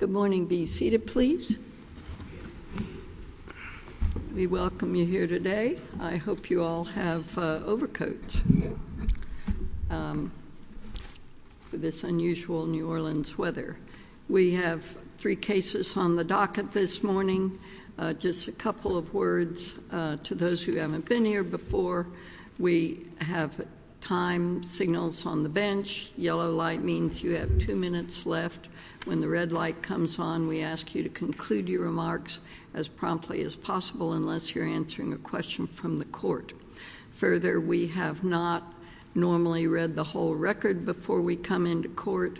Good morning. Be seated please. We welcome you here today. I hope you all have overcoats for this unusual New Orleans weather. We have three cases on the docket this morning. Just a couple of words to those who haven't been here before. We have time signals on the bench. Yellow light means you have two minutes left. When the red light comes on, we ask you to conclude your remarks as promptly as possible unless you're answering a question from the court. Further, we have not normally read the whole record before we come into court,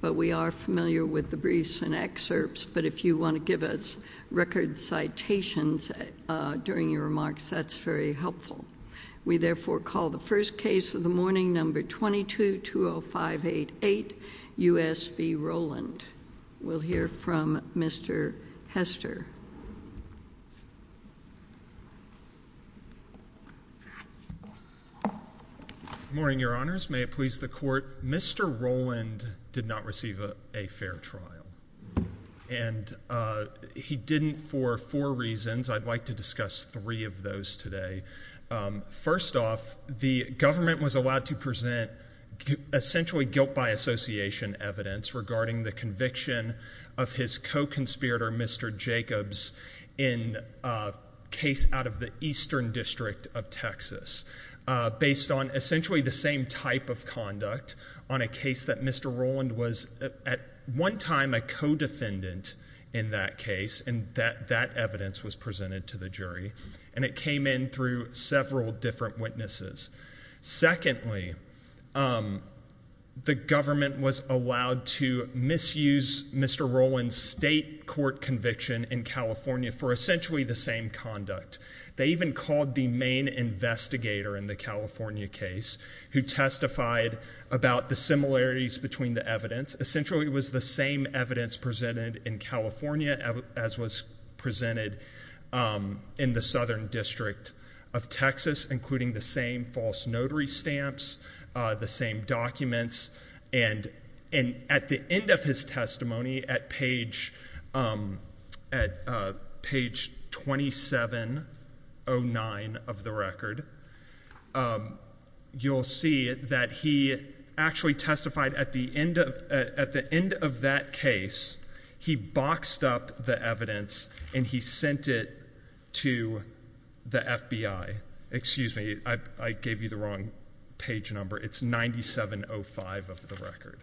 but we are familiar with the briefs and excerpts, but if you want to give us record citations during your remarks, that's very helpful. We therefore call the first case of the morning number 22-20588 U.S. v. Roland. We'll hear from Mr. Hester. Good morning, your honors. May it please the court. Mr. Roland did not receive a fair trial, and he didn't for four reasons. I'd like to discuss three of those today. First off, the government was allowed to present essentially guilt by association evidence regarding the conviction of his co-conspirator, Mr. Jacobs, in a case out of the Eastern District of Texas, based on essentially the same type of conduct on a case that Mr. Roland was at one time a co-defendant in that case, and that evidence was presented to the jury, and it came in through different witnesses. Secondly, the government was allowed to misuse Mr. Roland's state court conviction in California for essentially the same conduct. They even called the main investigator in the California case who testified about the similarities between the evidence. Essentially, it was the same evidence presented in California as was presented in the Southern District of Texas, including the same false notary stamps, the same documents, and at the end of his testimony, at page 2709 of the record, you'll see that he actually testified at the end of that case. He boxed up the evidence and he sent it to the FBI. Excuse me, I gave you the wrong page number. It's 9705 of the record.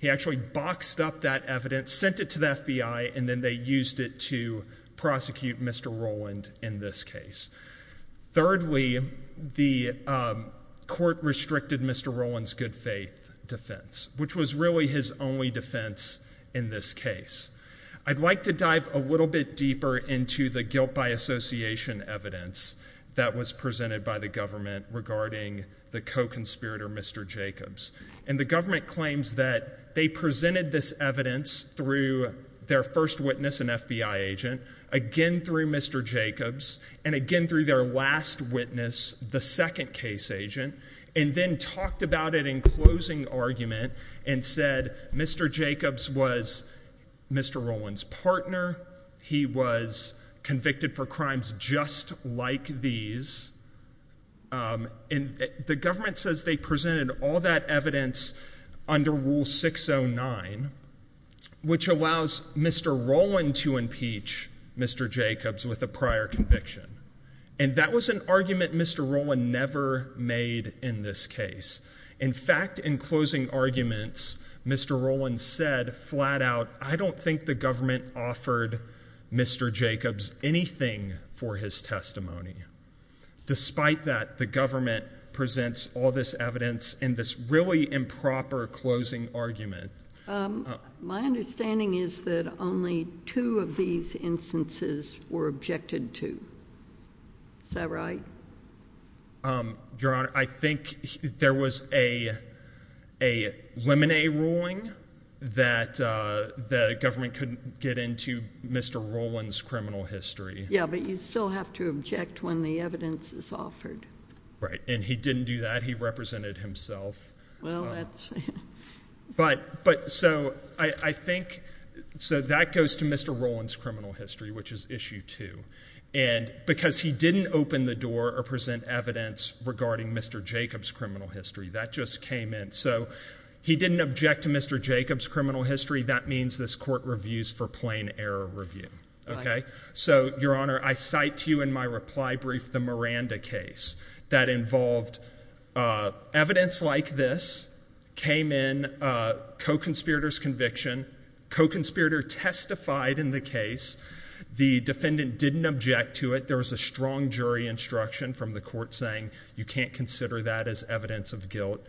He actually boxed up that evidence, sent it to the FBI, and then they used it to prosecute Mr. Roland in this case. Thirdly, the court restricted Mr. Roland's good faith defense, which was really his only defense in this case. I'd like to dive a little bit deeper into the guilt by association evidence that was presented by the government regarding the co-conspirator, Mr. Jacobs, and the government claims that they presented this evidence through their first witness, an FBI agent, again through Mr. Jacobs, and again through their last witness, the second case agent, and then talked about it in closing argument and said Mr. Jacobs was Mr. Roland's partner, he was convicted for crimes just like these, and the government says they presented all that evidence under Rule 609, which allows Mr. Roland to impeach Mr. Jacobs with a prior conviction, and that was an argument Mr. Roland never made in this case. In fact, in closing arguments, Mr. Roland said flat out, I don't think the government offered Mr. Jacobs anything for his testimony. Despite that, the government presents all this evidence in this really improper closing argument. My understanding is that only two of these instances were objected to. Is that right? Your Honor, I think there was a a lemonade ruling that the government couldn't get into Mr. Roland's criminal history. Yeah, but you still have to object when the evidence is offered. Right, and he didn't do that. He represented himself. But, so I think, so that goes to Mr. Roland's criminal history, which is issue two, and because he didn't open the door or present evidence regarding Mr. Jacobs' criminal history, that just came in. So he didn't object to Mr. Jacobs' criminal history. That means this court plain error review, okay? So, Your Honor, I cite to you in my reply brief the Miranda case that involved evidence like this, came in, co-conspirator's conviction. Co-conspirator testified in the case. The defendant didn't object to it. There was a strong jury instruction from the court saying you can't consider that as evidence of guilt.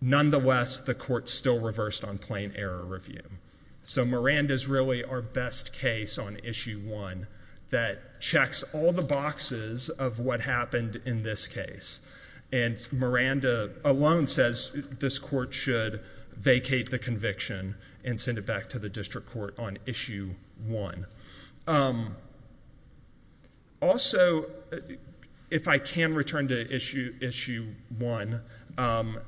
Nonetheless, the court still reversed on plain error review. So Miranda's really our best case on issue one that checks all the boxes of what happened in this case. And Miranda alone says this court should vacate the conviction and send it back to the district court on issue one. Also, if I can return to issue one, on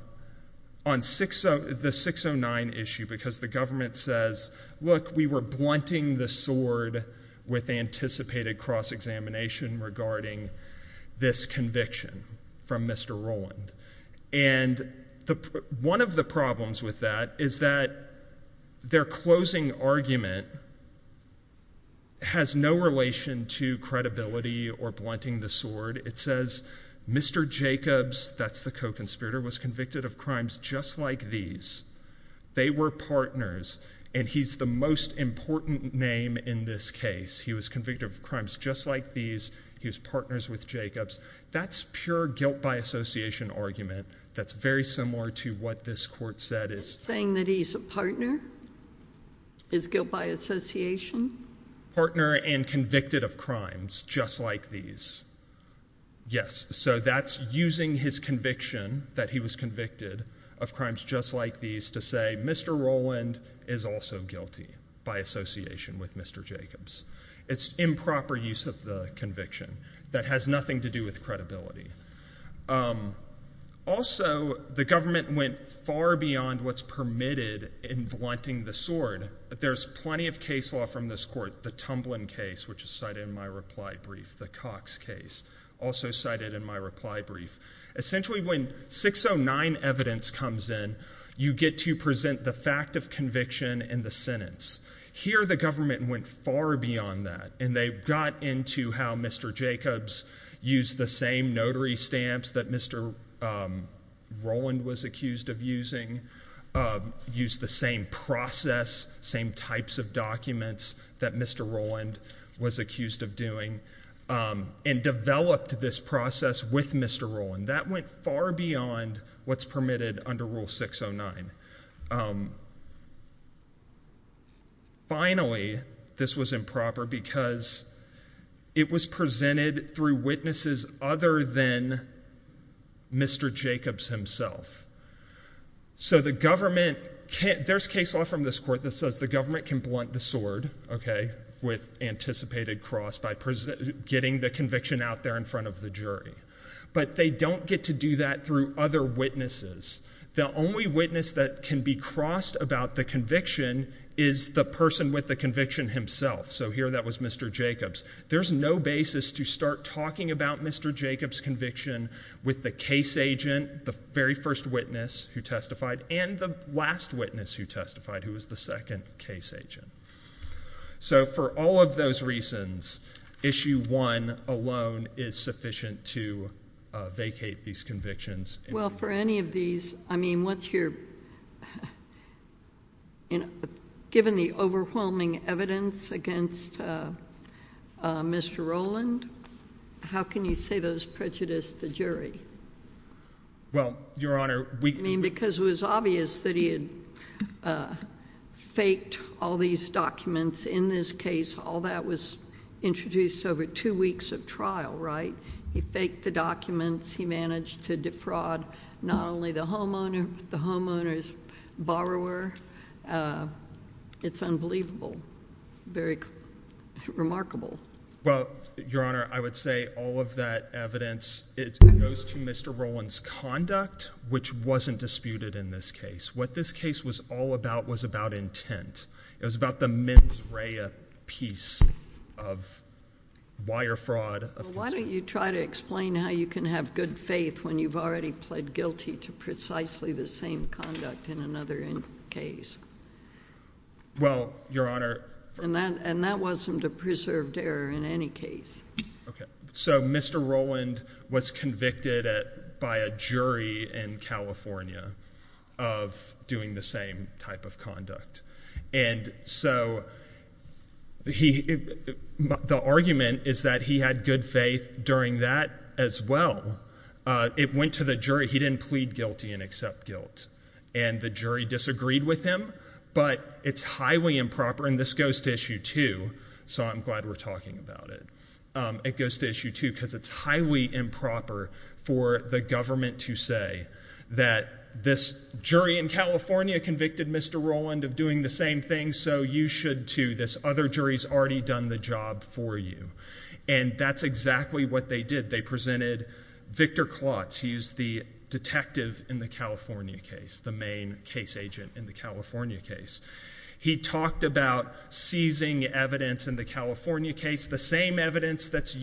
the 609 issue, because the government says, look, we were blunting the sword with anticipated cross-examination regarding this conviction from Mr. Roland. And one of the problems with that is that their closing argument has no relation to credibility or blunting the sword. It says Mr. Jacobs, that's the co-conspirator, was convicted of crimes just like these. They were partners. And he's the most important name in this case. He was convicted of crimes just like these. He was partners with Jacobs. That's pure guilt by association argument. That's very similar to what this court said. Saying that he's a partner is guilt by association? Partner and convicted of crimes just like these. Yes. So that's using his conviction, that he was convicted of crimes just like these, to say Mr. Roland is also guilty by association with Mr. Jacobs. It's improper use of the conviction that has nothing to do with credibility. Also, the government went far beyond what's permitted in blunting the sword. There's plenty of case law from this court. The Tumblin case, which is cited in my reply brief. The Cox case, also cited in my reply brief. Essentially, when 609 evidence comes in, you get to present the fact of conviction in the sentence. Here, the government went far beyond that. And they got into how Mr. Jacobs used the same notary stamps that Mr. Roland was accused of using. Used the same process, same types of documents that Mr. Roland was accused of doing. And developed this process with Mr. Roland. That went far beyond what's permitted under Rule 609. Finally, this was improper because it was presented through witnesses other than Mr. Jacobs himself. There's case law from this court that says the government can blunt the sword with anticipated cross by getting the conviction out there in front of the jury. But they don't get to do that through other witnesses. The only witness that can be crossed about the conviction is the person with the conviction himself. Here, that was Mr. Jacobs. There's no basis to start talking about Mr. Jacobs' conviction with the case agent, the very first witness who testified, and the last witness who testified, who was the second case agent. So, for all of those reasons, Issue 1 alone is sufficient to vacate these convictions. Well, for any of these, I mean, once you're given the overwhelming evidence against Mr. Roland, how can you say those prejudice the jury? Well, Your Honor, we... I mean, because it was obvious that he had faked all these documents. In this case, all that was introduced over two weeks of trial, right? He faked the documents. He managed to defraud not only the homeowner, but the homeowner's borrower. It's unbelievable. Very remarkable. Well, Your Honor, I would say all of that evidence, it goes to Mr. Roland's conduct, which wasn't disputed in this case. What this case was all about was about intent. It was about the mens rea piece of wire fraud. Why don't you try to explain how you can have good faith when you've already pled guilty to precisely the same conduct in another case? Well, Your Honor... And that wasn't a preserved error in any case. Okay. So Mr. Roland was convicted by a jury in California of doing the same type of conduct. And so the argument is that he had good faith during that as well. It went to the jury. He didn't plead guilty and accept guilt. And the jury disagreed with him. But it's highly improper, and this goes to issue two, so I'm glad we're talking about it. It goes to issue two because it's highly improper for the government to say that this jury in California convicted Mr. Roland of doing the same thing, so you should too. This other jury's already done the job for you. And that's exactly what they did. They presented Victor Klotz. He's the detective in the California case. He talked about seizing evidence in the California case, the same evidence that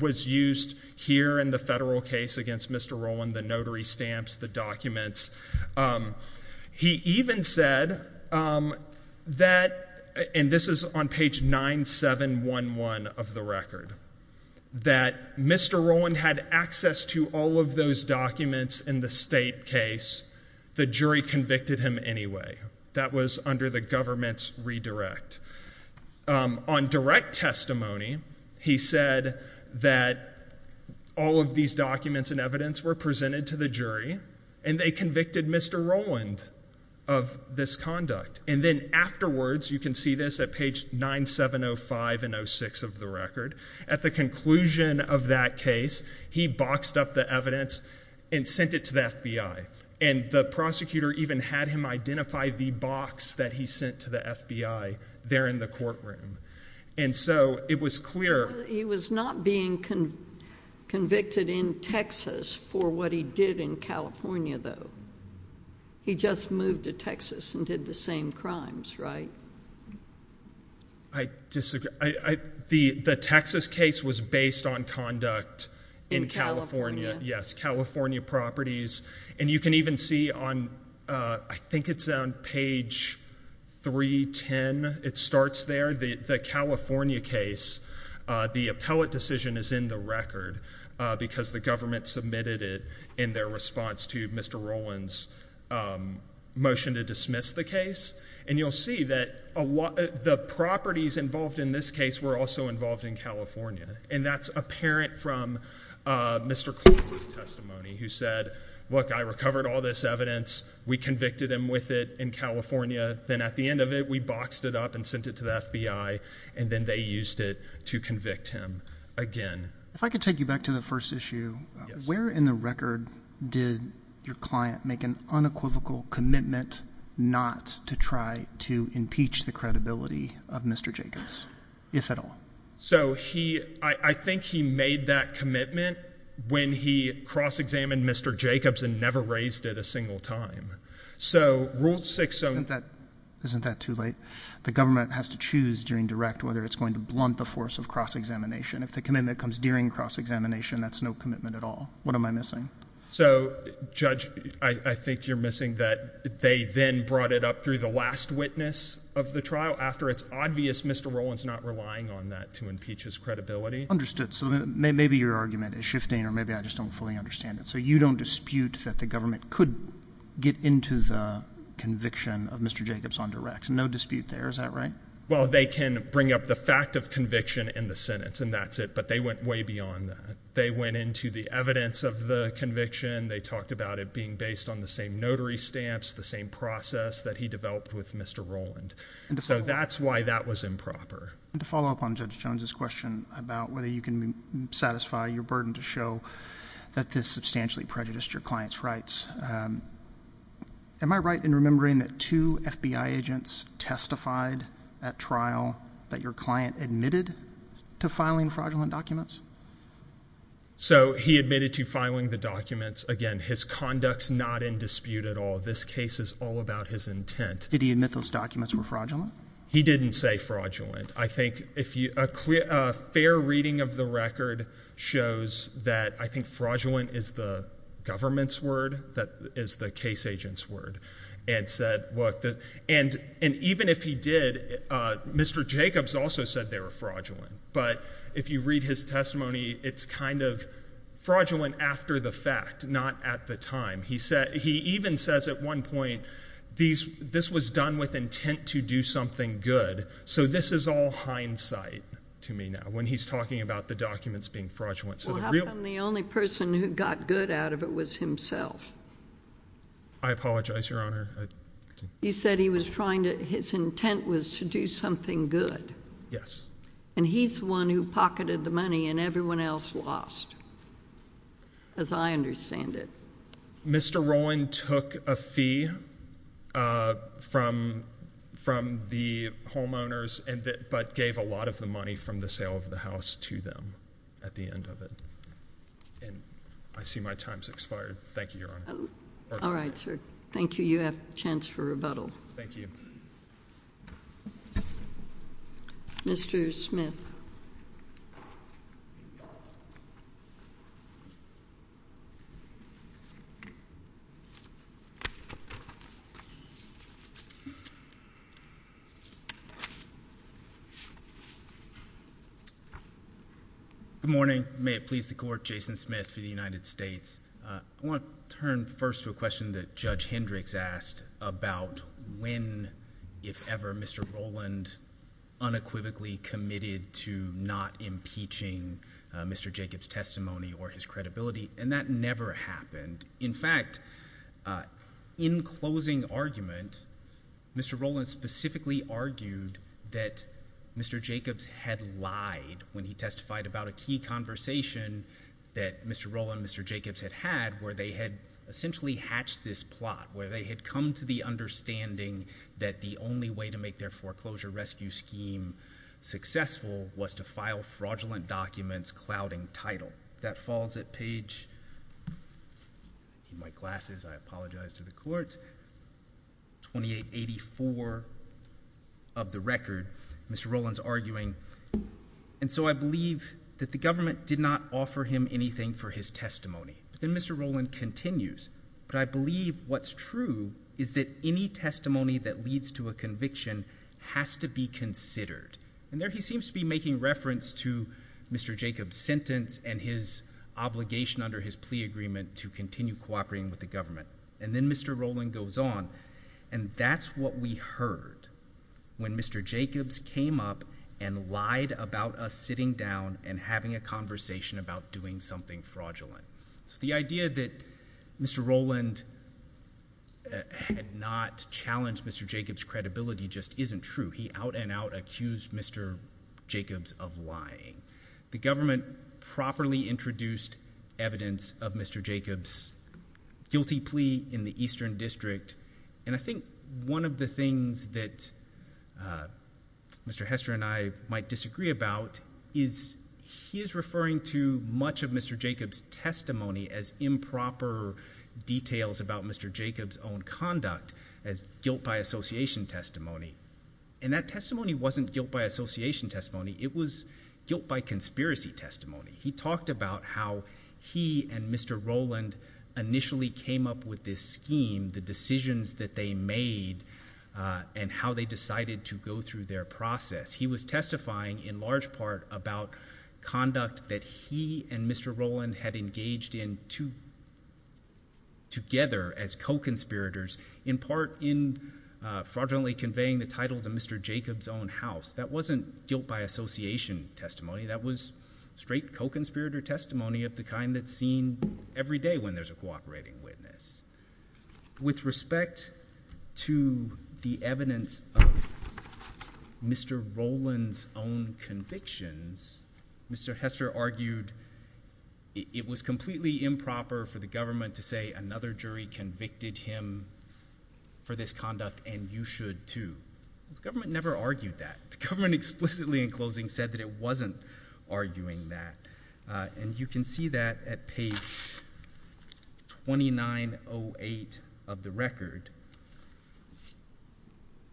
was used here in the federal case against Mr. Roland, the notary stamps, the documents. He even said that, and this is on page 9711 of the record, that Mr. Roland had access to all of those documents in the state case. The jury convicted him anyway. That was under the government's redirect. On direct testimony, he said that all of these documents and evidence were presented to the jury, and they convicted Mr. Roland of this conduct. And then afterwards, you can see this at page 9705 of the record. At the conclusion of that case, he boxed up the evidence and sent it to the FBI, and the prosecutor even had him identify the box that he sent to the FBI there in the courtroom, and so it was clear. He was not being convicted in Texas for what he did in California, though. He just moved to Texas and did the same crimes, right? I disagree. The Texas case was based on conduct in California. Yes, California properties, and you can even see on, I think it's on page 310, it starts there. The California case, the appellate decision is in the record because the government submitted it in their response to Mr. Roland's motion to dismiss the case, and you'll see that the properties involved in this case were also involved in California, and that's apparent from Mr. Collins' testimony, who said, look, I recovered all this evidence. We convicted him with it in California. Then at the end of it, we boxed it up and sent it to the FBI, and then they used it to convict him again. If I could take you back to the first issue, where in the record did your client make an unequivocal commitment not to try to impeach the credibility of Mr. Jacobs, if at all? I think he made that commitment when he cross-examined Mr. Jacobs and never raised it a single time. Isn't that too late? The government has to choose during direct whether it's going blunt the force of cross-examination. If the commitment comes during cross-examination, that's no commitment at all. What am I missing? Judge, I think you're missing that they then brought it up through the last witness of the trial after it's obvious Mr. Roland's not relying on that to impeach his credibility. Understood. Maybe your argument is shifting, or maybe I just don't fully understand it. You don't dispute that the government could get into the conviction of Mr. Jacobs on direct. No dispute there. Is that right? Well, they can bring up the fact of conviction in the sentence, and that's it, but they went way beyond that. They went into the evidence of the conviction. They talked about it being based on the same notary stamps, the same process that he developed with Mr. Roland. So that's why that was improper. To follow up on Judge Jones's question about whether you can satisfy your burden to show that this substantially prejudiced your client's rights, am I right in remembering that two FBI agents testified at trial that your client admitted to filing fraudulent documents? So he admitted to filing the documents. Again, his conduct's not in dispute at all. This case is all about his intent. Did he admit those documents were fraudulent? He didn't say fraudulent. I think a fair reading of the record shows that I think fraudulent is the government's word, that is the case agent's word, and even if he did, Mr. Jacobs also said they were fraudulent, but if you read his testimony, it's kind of fraudulent after the fact, not at the time. He even says at one point, this was done with intent to do something good. So this is all hindsight to me now, when he's talking about the documents being fraudulent. Well, how come the only person who got good out of it was himself? I apologize, Your Honor. He said his intent was to do something good. Yes. And he's the one who pocketed the money and everyone else lost, as I understand it. Mr. Roland took a fee from the homeowners, but gave a lot of the money from the sale of the house. At the end of it, and I see my time's expired. Thank you, Your Honor. All right, sir. Thank you. You have a chance for rebuttal. Thank you. Mr. Smith. Good morning. May it please the Court, Jason Smith for the United States. I want to turn first to a question that Judge Hendricks asked about when, if ever, Mr. Roland unequivocally committed to not impeaching Mr. Jacobs' testimony or his credibility, and that never happened. In fact, in closing argument, Mr. Roland specifically argued that Mr. Jacobs had lied when he testified about a key conversation that Mr. Roland and Mr. Jacobs had had where they had essentially hatched this plot, where they had come to the understanding that the only way to make their foreclosure rescue scheme successful was to file fraudulent documents clouding title. That falls at page, in my glasses, I apologize to the Court, 2884 of the record, Mr. Roland's arguing, and so I believe that the government did not offer him anything for his testimony. Then Mr. Roland continues, but I believe what's true is that any testimony that leads to a conviction has to be considered, and there he seems to be making reference to Mr. Jacobs' sentence and his obligation under his plea agreement to continue cooperating with the government, and then Mr. Roland goes on, and that's what we heard when Mr. Jacobs came up and lied about us sitting down and having a conversation about doing something fraudulent. So the idea that Mr. Roland had not challenged Mr. Jacobs' credibility just isn't true. He out and out accused Mr. Jacobs of lying. The government properly introduced evidence of Mr. Jacobs' guilty plea in the Eastern District, and I think one of the things that Mr. Hester and I might disagree about is he is referring to much of Mr. Jacobs' testimony as improper details about Mr. Jacobs' own conduct as guilt by association testimony, and that testimony wasn't guilt by association testimony, it was guilt by conspiracy testimony. He talked about how he and Mr. Roland initially came up with this scheme, the decisions that they made, and how they decided to go through their process. He was testifying in large part about conduct that he and Mr. Roland had engaged in together as co-conspirators, in part in fraudulently conveying the title to Mr. Jacobs' own house. That wasn't guilt by association testimony, that was straight co-conspirator testimony of the kind that's seen every day when there's a cooperating witness. With respect to the evidence of Mr. Roland's own convictions, Mr. Hester argued it was completely improper for the government to say another jury convicted him for this conduct, and you should too. The government never argued that. The government explicitly in closing said that it wasn't arguing that, and you can see that at page 2908 of the record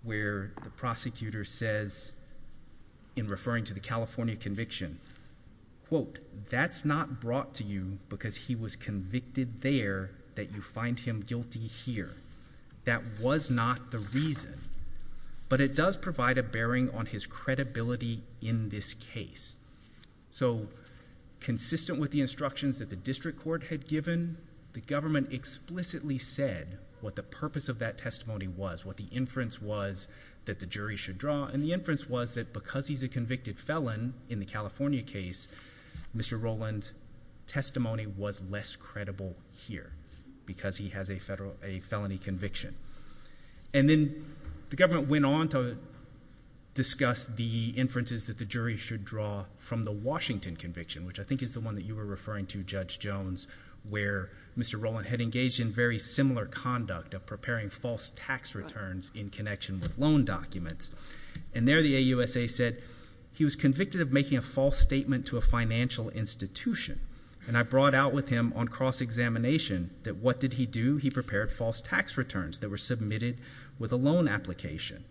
where the prosecutor says, in referring to the California conviction, quote, that's not brought to you because he was convicted there that you find him guilty here. That was not the reason, but it does provide a bearing on his credibility in this case. So consistent with the instructions that the district court had given, the government explicitly said what the purpose of that testimony was, what the inference was that the jury should draw, and the inference was that because he's a convicted felon in the California case, Mr. Roland's testimony was less credible here because he has a felony conviction. And then the government went on to discuss the inferences that the jury should draw from the Washington conviction, which I think is the one that you were referring to, Judge Jones, where Mr. Roland had engaged in very similar conduct of preparing false tax returns in connection with loan documents. And there the AUSA said he was convicted of making a false statement to a financial institution, and I brought out with him on cross-examination that what did he do? He prepared false tax returns that were submitted with a loan application.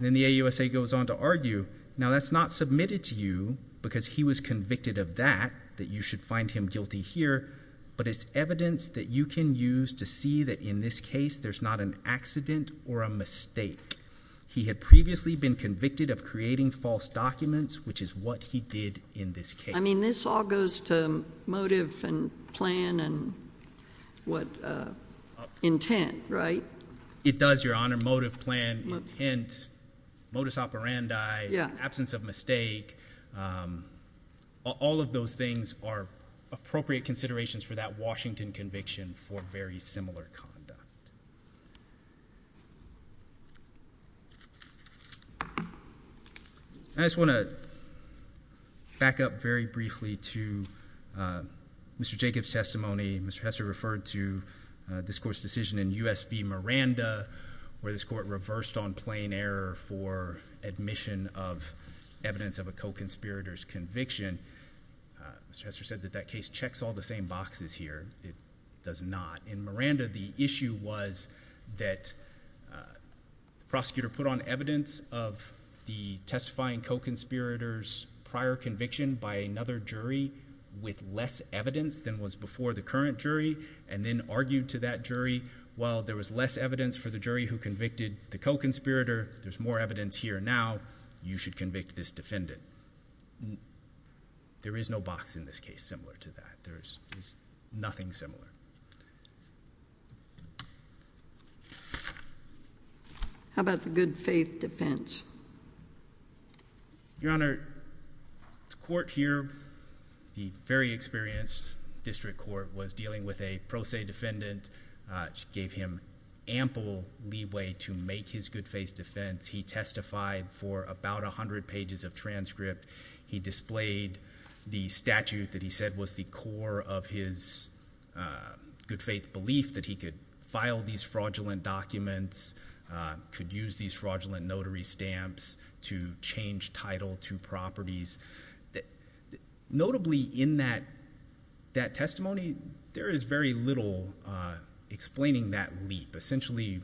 Then the AUSA goes on to argue, now that's not submitted to you because he was convicted of that, that you should find him guilty here, but it's evidence that you can use to see that in this case there's not an accident or a mistake. He had previously been convicted of creating false documents, which is what he did in this case. I mean this all goes to motive and plan and what intent, right? It does, Your Honor. Motive, plan, intent, modus operandi, absence of mistake, all of those things are appropriate considerations for that Washington conviction for very similar conduct. I just want to back up very briefly to Mr. Jacobs' testimony. Mr. Hester referred to this Court's decision in U.S. v. Miranda, where this Court reversed on plain error for admission of evidence of a co-conspirator's conviction. Mr. Hester said that that case checks all the same boxes here. It does not. In Miranda, the issue was that the prosecutor put on evidence of the testifying co-conspirator's prior conviction by another jury with less evidence than was before the current jury and then argued to that jury, while there was less evidence for the jury who convicted the co-conspirator, there's more evidence here now, you should convict this defendant. But there is no box in this case similar to that. There's nothing similar. How about the good faith defense? Your Honor, this Court here, the very experienced District Court, was dealing with a pro se defendant. It gave him ample leeway to make his good faith defense. He testified for about 100 pages of transcript. He displayed the statute that he said was the core of his good faith belief that he could file these fraudulent documents, could use these fraudulent notary stamps to change title to properties. Notably in that testimony, there is very little explaining that leap. Essentially,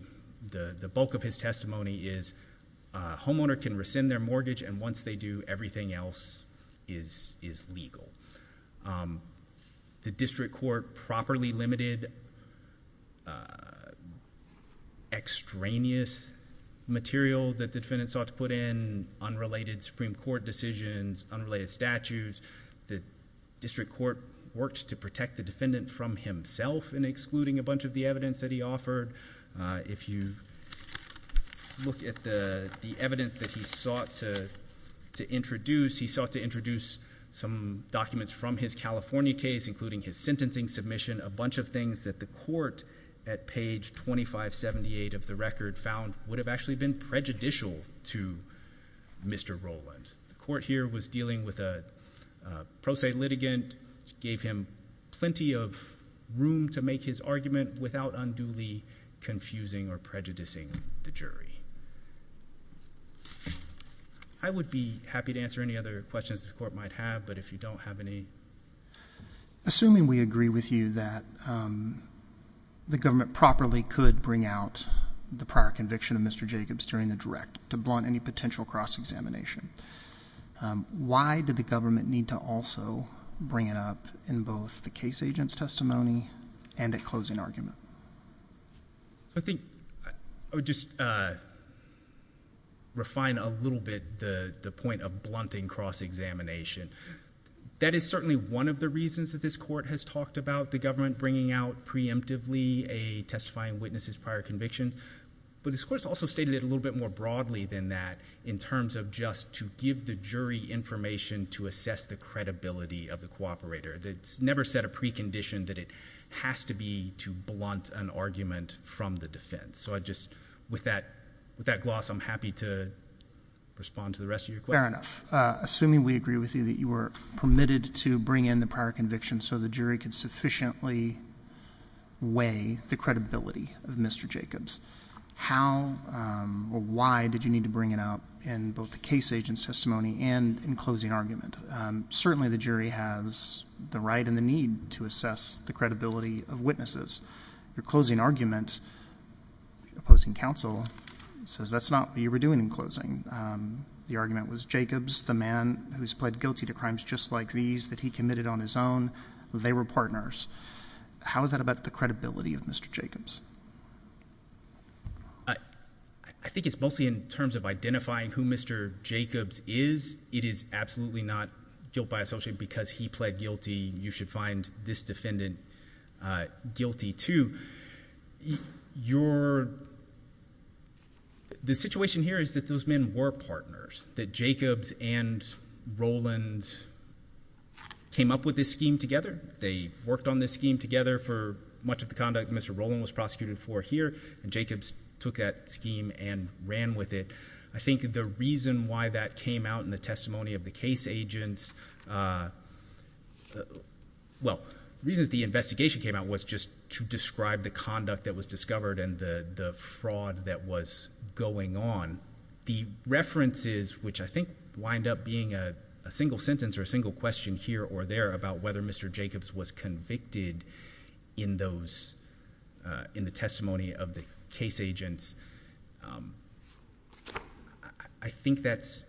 the bulk of his testimony is a homeowner can rescind their mortgage and once they do, everything else is legal. The District Court properly limited extraneous material that the defendant sought to put in, unrelated Supreme Court decisions, unrelated statutes. The District Court worked to protect the defendant from himself in excluding a bunch of the evidence that he offered. If you look at the evidence that he sought to introduce, he sought to introduce some documents from his California case, including his sentencing submission, a bunch of things that the Court at page 2578 of the record found would have actually been prejudicial to Mr. Rowland. The Court here was dealing with a pro se litigant. It gave him plenty of room to make his argument without unduly confusing or prejudicing the jury. I would be happy to answer any other questions the Court might have, but if you don't have any. Assuming we agree with you that the government properly could bring out the prior conviction of Mr. Jacobs during the direct to blunt any potential cross-examination, why did the government need to also bring it up in both the case agent's testimony and at closing argument? I think I would just refine a little bit the point of blunting cross-examination. That is certainly one of the reasons that this Court has talked about the government bringing out preemptively a testifying witness's prior conviction, but this Court's also stated it a little bit more broadly than that in terms of just to give the jury information to assess the credibility of the cooperator. It's never set a precondition that it has to be to blunt an argument from the defense. So I just with that gloss I'm happy to respond to the rest of your questions. Fair enough. Assuming we agree with you that you were permitted to bring in the prior conviction so the jury could sufficiently weigh the credibility of Mr. Jacobs, how or why did you need to bring it out in both the case agent's testimony and in closing argument? Certainly the jury has the right and the need to assess the credibility of witnesses. Your closing argument opposing counsel says that's not what you were doing in closing. The argument was Jacobs, the man who's pled guilty to crimes just like these that he committed on his own, they were partners. How is that about the credibility of Mr. Jacobs? I think it's mostly in terms of identifying who Mr. Jacobs is. It is absolutely not guilt by associate because he pled guilty. You should find this defendant guilty too. The situation here is that those men were partners, that Jacobs and Rollins came up with this scheme together. They worked on this scheme together for much of the conduct Mr. Rollin was prosecuted for here and Jacobs took that scheme and ran with it. I think the reason why that came out in the testimony of the case agents, well reasons the investigation came out was just to describe the conduct that was discovered and the fraud that was going on. The references which I think wind up being a single sentence or a single question here or there about whether Mr. Jacobs was convicted in the testimony of the case agents, I think that's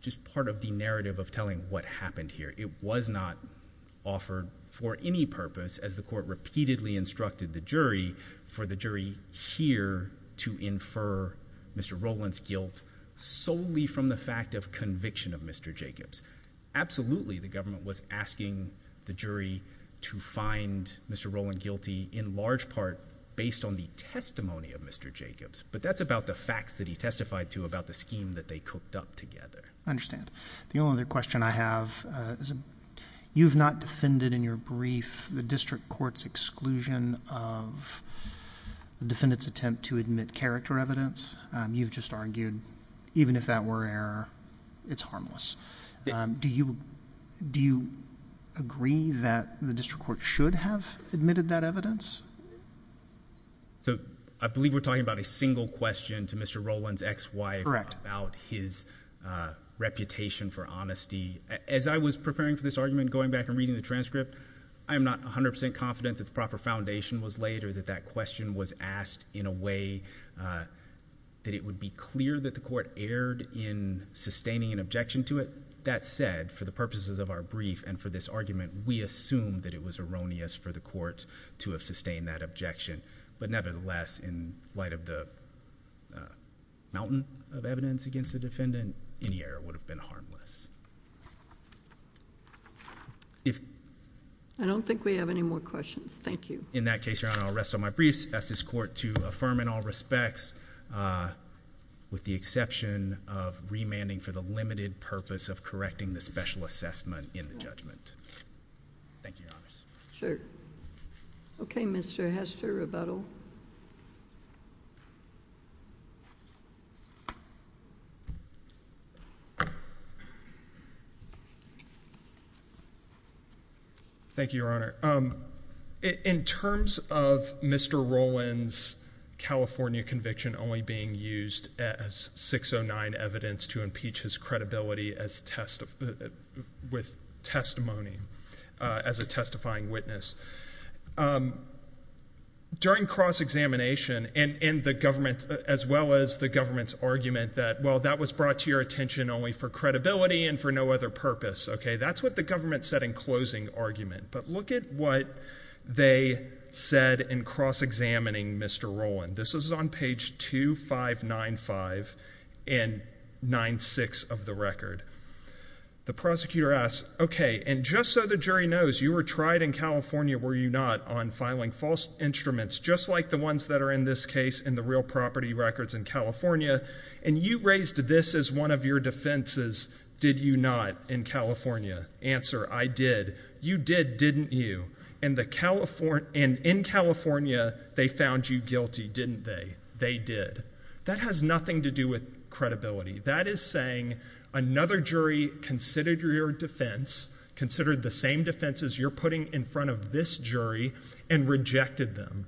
just part of the narrative of telling what happened here. It was not offered for any purpose as the court repeatedly instructed the jury for the jury here to infer Mr. Rollin's guilt solely from the fact of conviction of Mr. Jacobs. Absolutely the government was asking the jury to find Mr. Rollin guilty in large part based on the testimony of Mr. Jacobs but that's about the facts that he testified to about the scheme that they cooked up together. I understand. The court's exclusion of the defendant's attempt to admit character evidence. You've just argued even if that were error it's harmless. Do you agree that the district court should have admitted that evidence? So I believe we're talking about a single question to Mr. Rollin's ex-wife about his reputation for honesty. As I was preparing for this argument going back and the proper foundation was laid or that question was asked in a way that it would be clear that the court erred in sustaining an objection to it. That said for the purposes of our brief and for this argument we assume that it was erroneous for the court to have sustained that objection but nevertheless in light of the mountain of evidence against the defendant any error would have been harmless. I don't think we have any more questions. Thank you. In that case your honor I'll rest on my briefs ask this court to affirm in all respects with the exception of remanding for the limited purpose of correcting the special assessment in the judgment. Thank you your honors. Sure. Okay Mr. Hester, rebuttal. Thank you your honor. In terms of Mr. Rollin's California conviction only being used as 609 evidence to impeach his credibility as test with testimony as a testifying witness. During cross-examination and in the government as well as the government's argument that well that was brought to your attention only for credibility and for no other purpose. Okay that's what the government said in closing argument but look at what they said in cross-examining Mr. Rollin. This is on page 2595 and 96 of the record. The prosecutor asks okay and just so the jury knows you were tried in California were you not on filing false instruments just like the ones that are in this case in the real property records in California and you raised this as one of your defenses did you not in California. Answer I did. You did didn't you and the California and in California they found you guilty didn't they they did that has nothing to do with credibility that is saying another jury considered your defense considered the same defenses you're putting in front of this jury and rejected them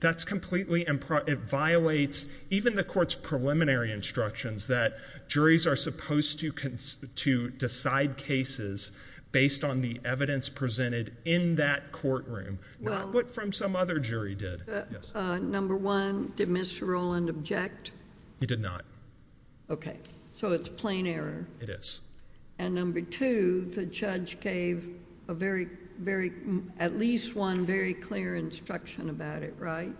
that's completely and it violates even the court's preliminary instructions that juries are supposed to constitute decide cases based on the evidence presented in that courtroom not what from some other jury did. Number one did Mr. Rollin object. He did not. Okay so it's plain error. It is. And number two the judge gave a very very at least one very clear instruction about it right.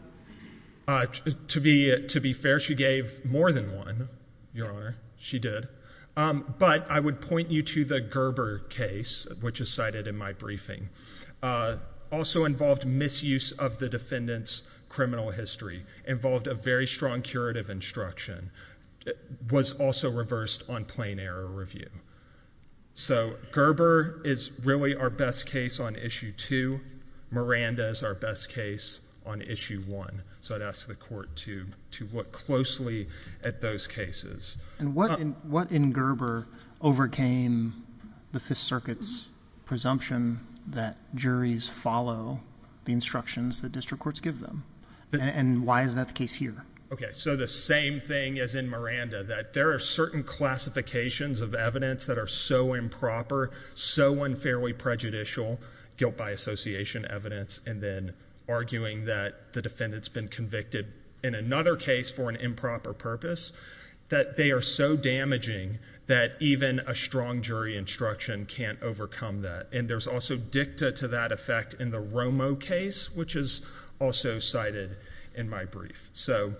To be to be fair she gave more than one your honor she did but I would point you to the Gerber case which is cited in my briefing also involved misuse of the defendant's criminal history involved a very strong curative instruction was also reversed on plain error review. So Gerber is really our best case on issue two Miranda is our best case on issue one so I'd ask the court to to look closely at those cases. And what in what in Gerber overcame the fifth circuit's presumption that juries follow the instructions that district courts give them and why is that the case here? Okay so the same thing as in Miranda that there are certain classifications of evidence that are so improper so unfairly prejudicial guilt by association evidence and then arguing that the defendant's been convicted in another case for an improper purpose that they are so damaging that even a strong jury instruction can't overcome that and there's also dicta to that effect in the Romo case which is also cited in my brief. So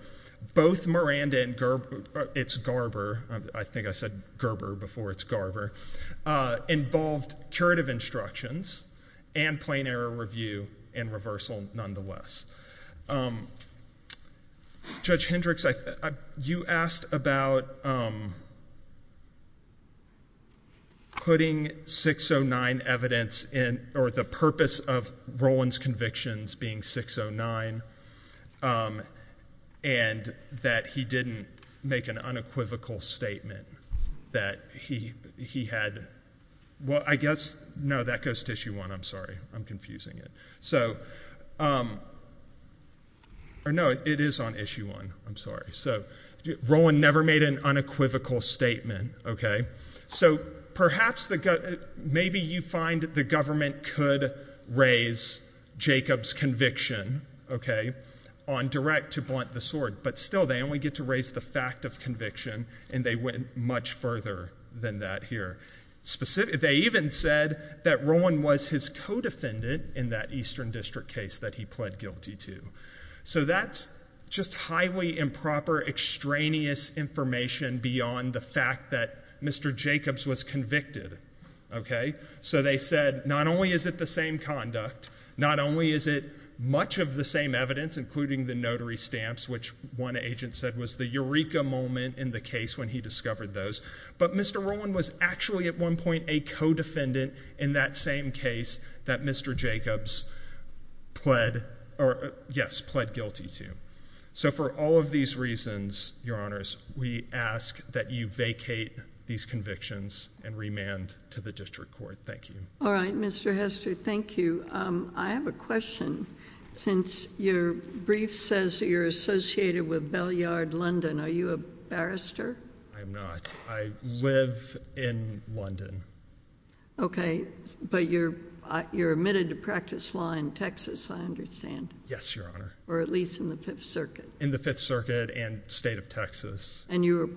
both Miranda and Gerber it's Gerber I think I said Gerber before it's Gerber involved curative instructions and plain error review and reversal nonetheless. Judge Hendricks you asked about putting 609 evidence in or the purpose of Roland's convictions being 609 and that he didn't make an unequivocal statement that he he had well I guess no that goes to issue one I'm sorry I'm confusing it so or no it is on issue one I'm sorry so Roland never made an unequivocal statement okay so perhaps the maybe you find the government could raise Jacob's conviction okay on direct to blunt the sword but still they only get to raise the fact of conviction and they went much further than that here specific they even said that Roland was his co-defendant in that eastern district case that he pled guilty to so that's just highly improper extraneous information beyond the fact that Mr. Jacobs was convicted okay so they said not only is it the same conduct not only is it much of the same evidence including the notary stamps which one agent said was the eureka moment in the case when he discovered those but Mr. Roland was actually at one point a co-defendant in that same case that Mr. Jacobs pled or yes pled guilty to so for all of these reasons your honors we ask that you vacate these convictions and remand to the district court thank you all right Mr. Hester thank you I have a since your brief says you're associated with Bell Yard London are you a barrister I'm not I live in London okay but you're you're admitted to practice law in Texas I understand yes your honor or at least in the fifth circuit in the fifth circuit and state of Texas and you were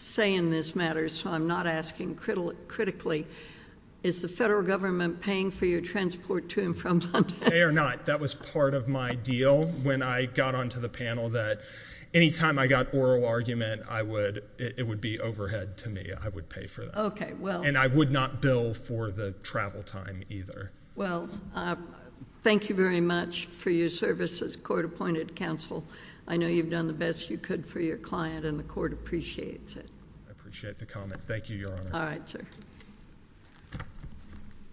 saying this matter so I'm not asking critical critically is the federal government paying for your transport to and from London or not that was part of my deal when I got onto the panel that anytime I got oral argument I would it would be overhead to me I would pay for that okay well and I would not bill for the travel time either well thank you very much for your service as court counsel I know you've done the best you could for your client and the court appreciates it I appreciate the comment thank you your honor all right sir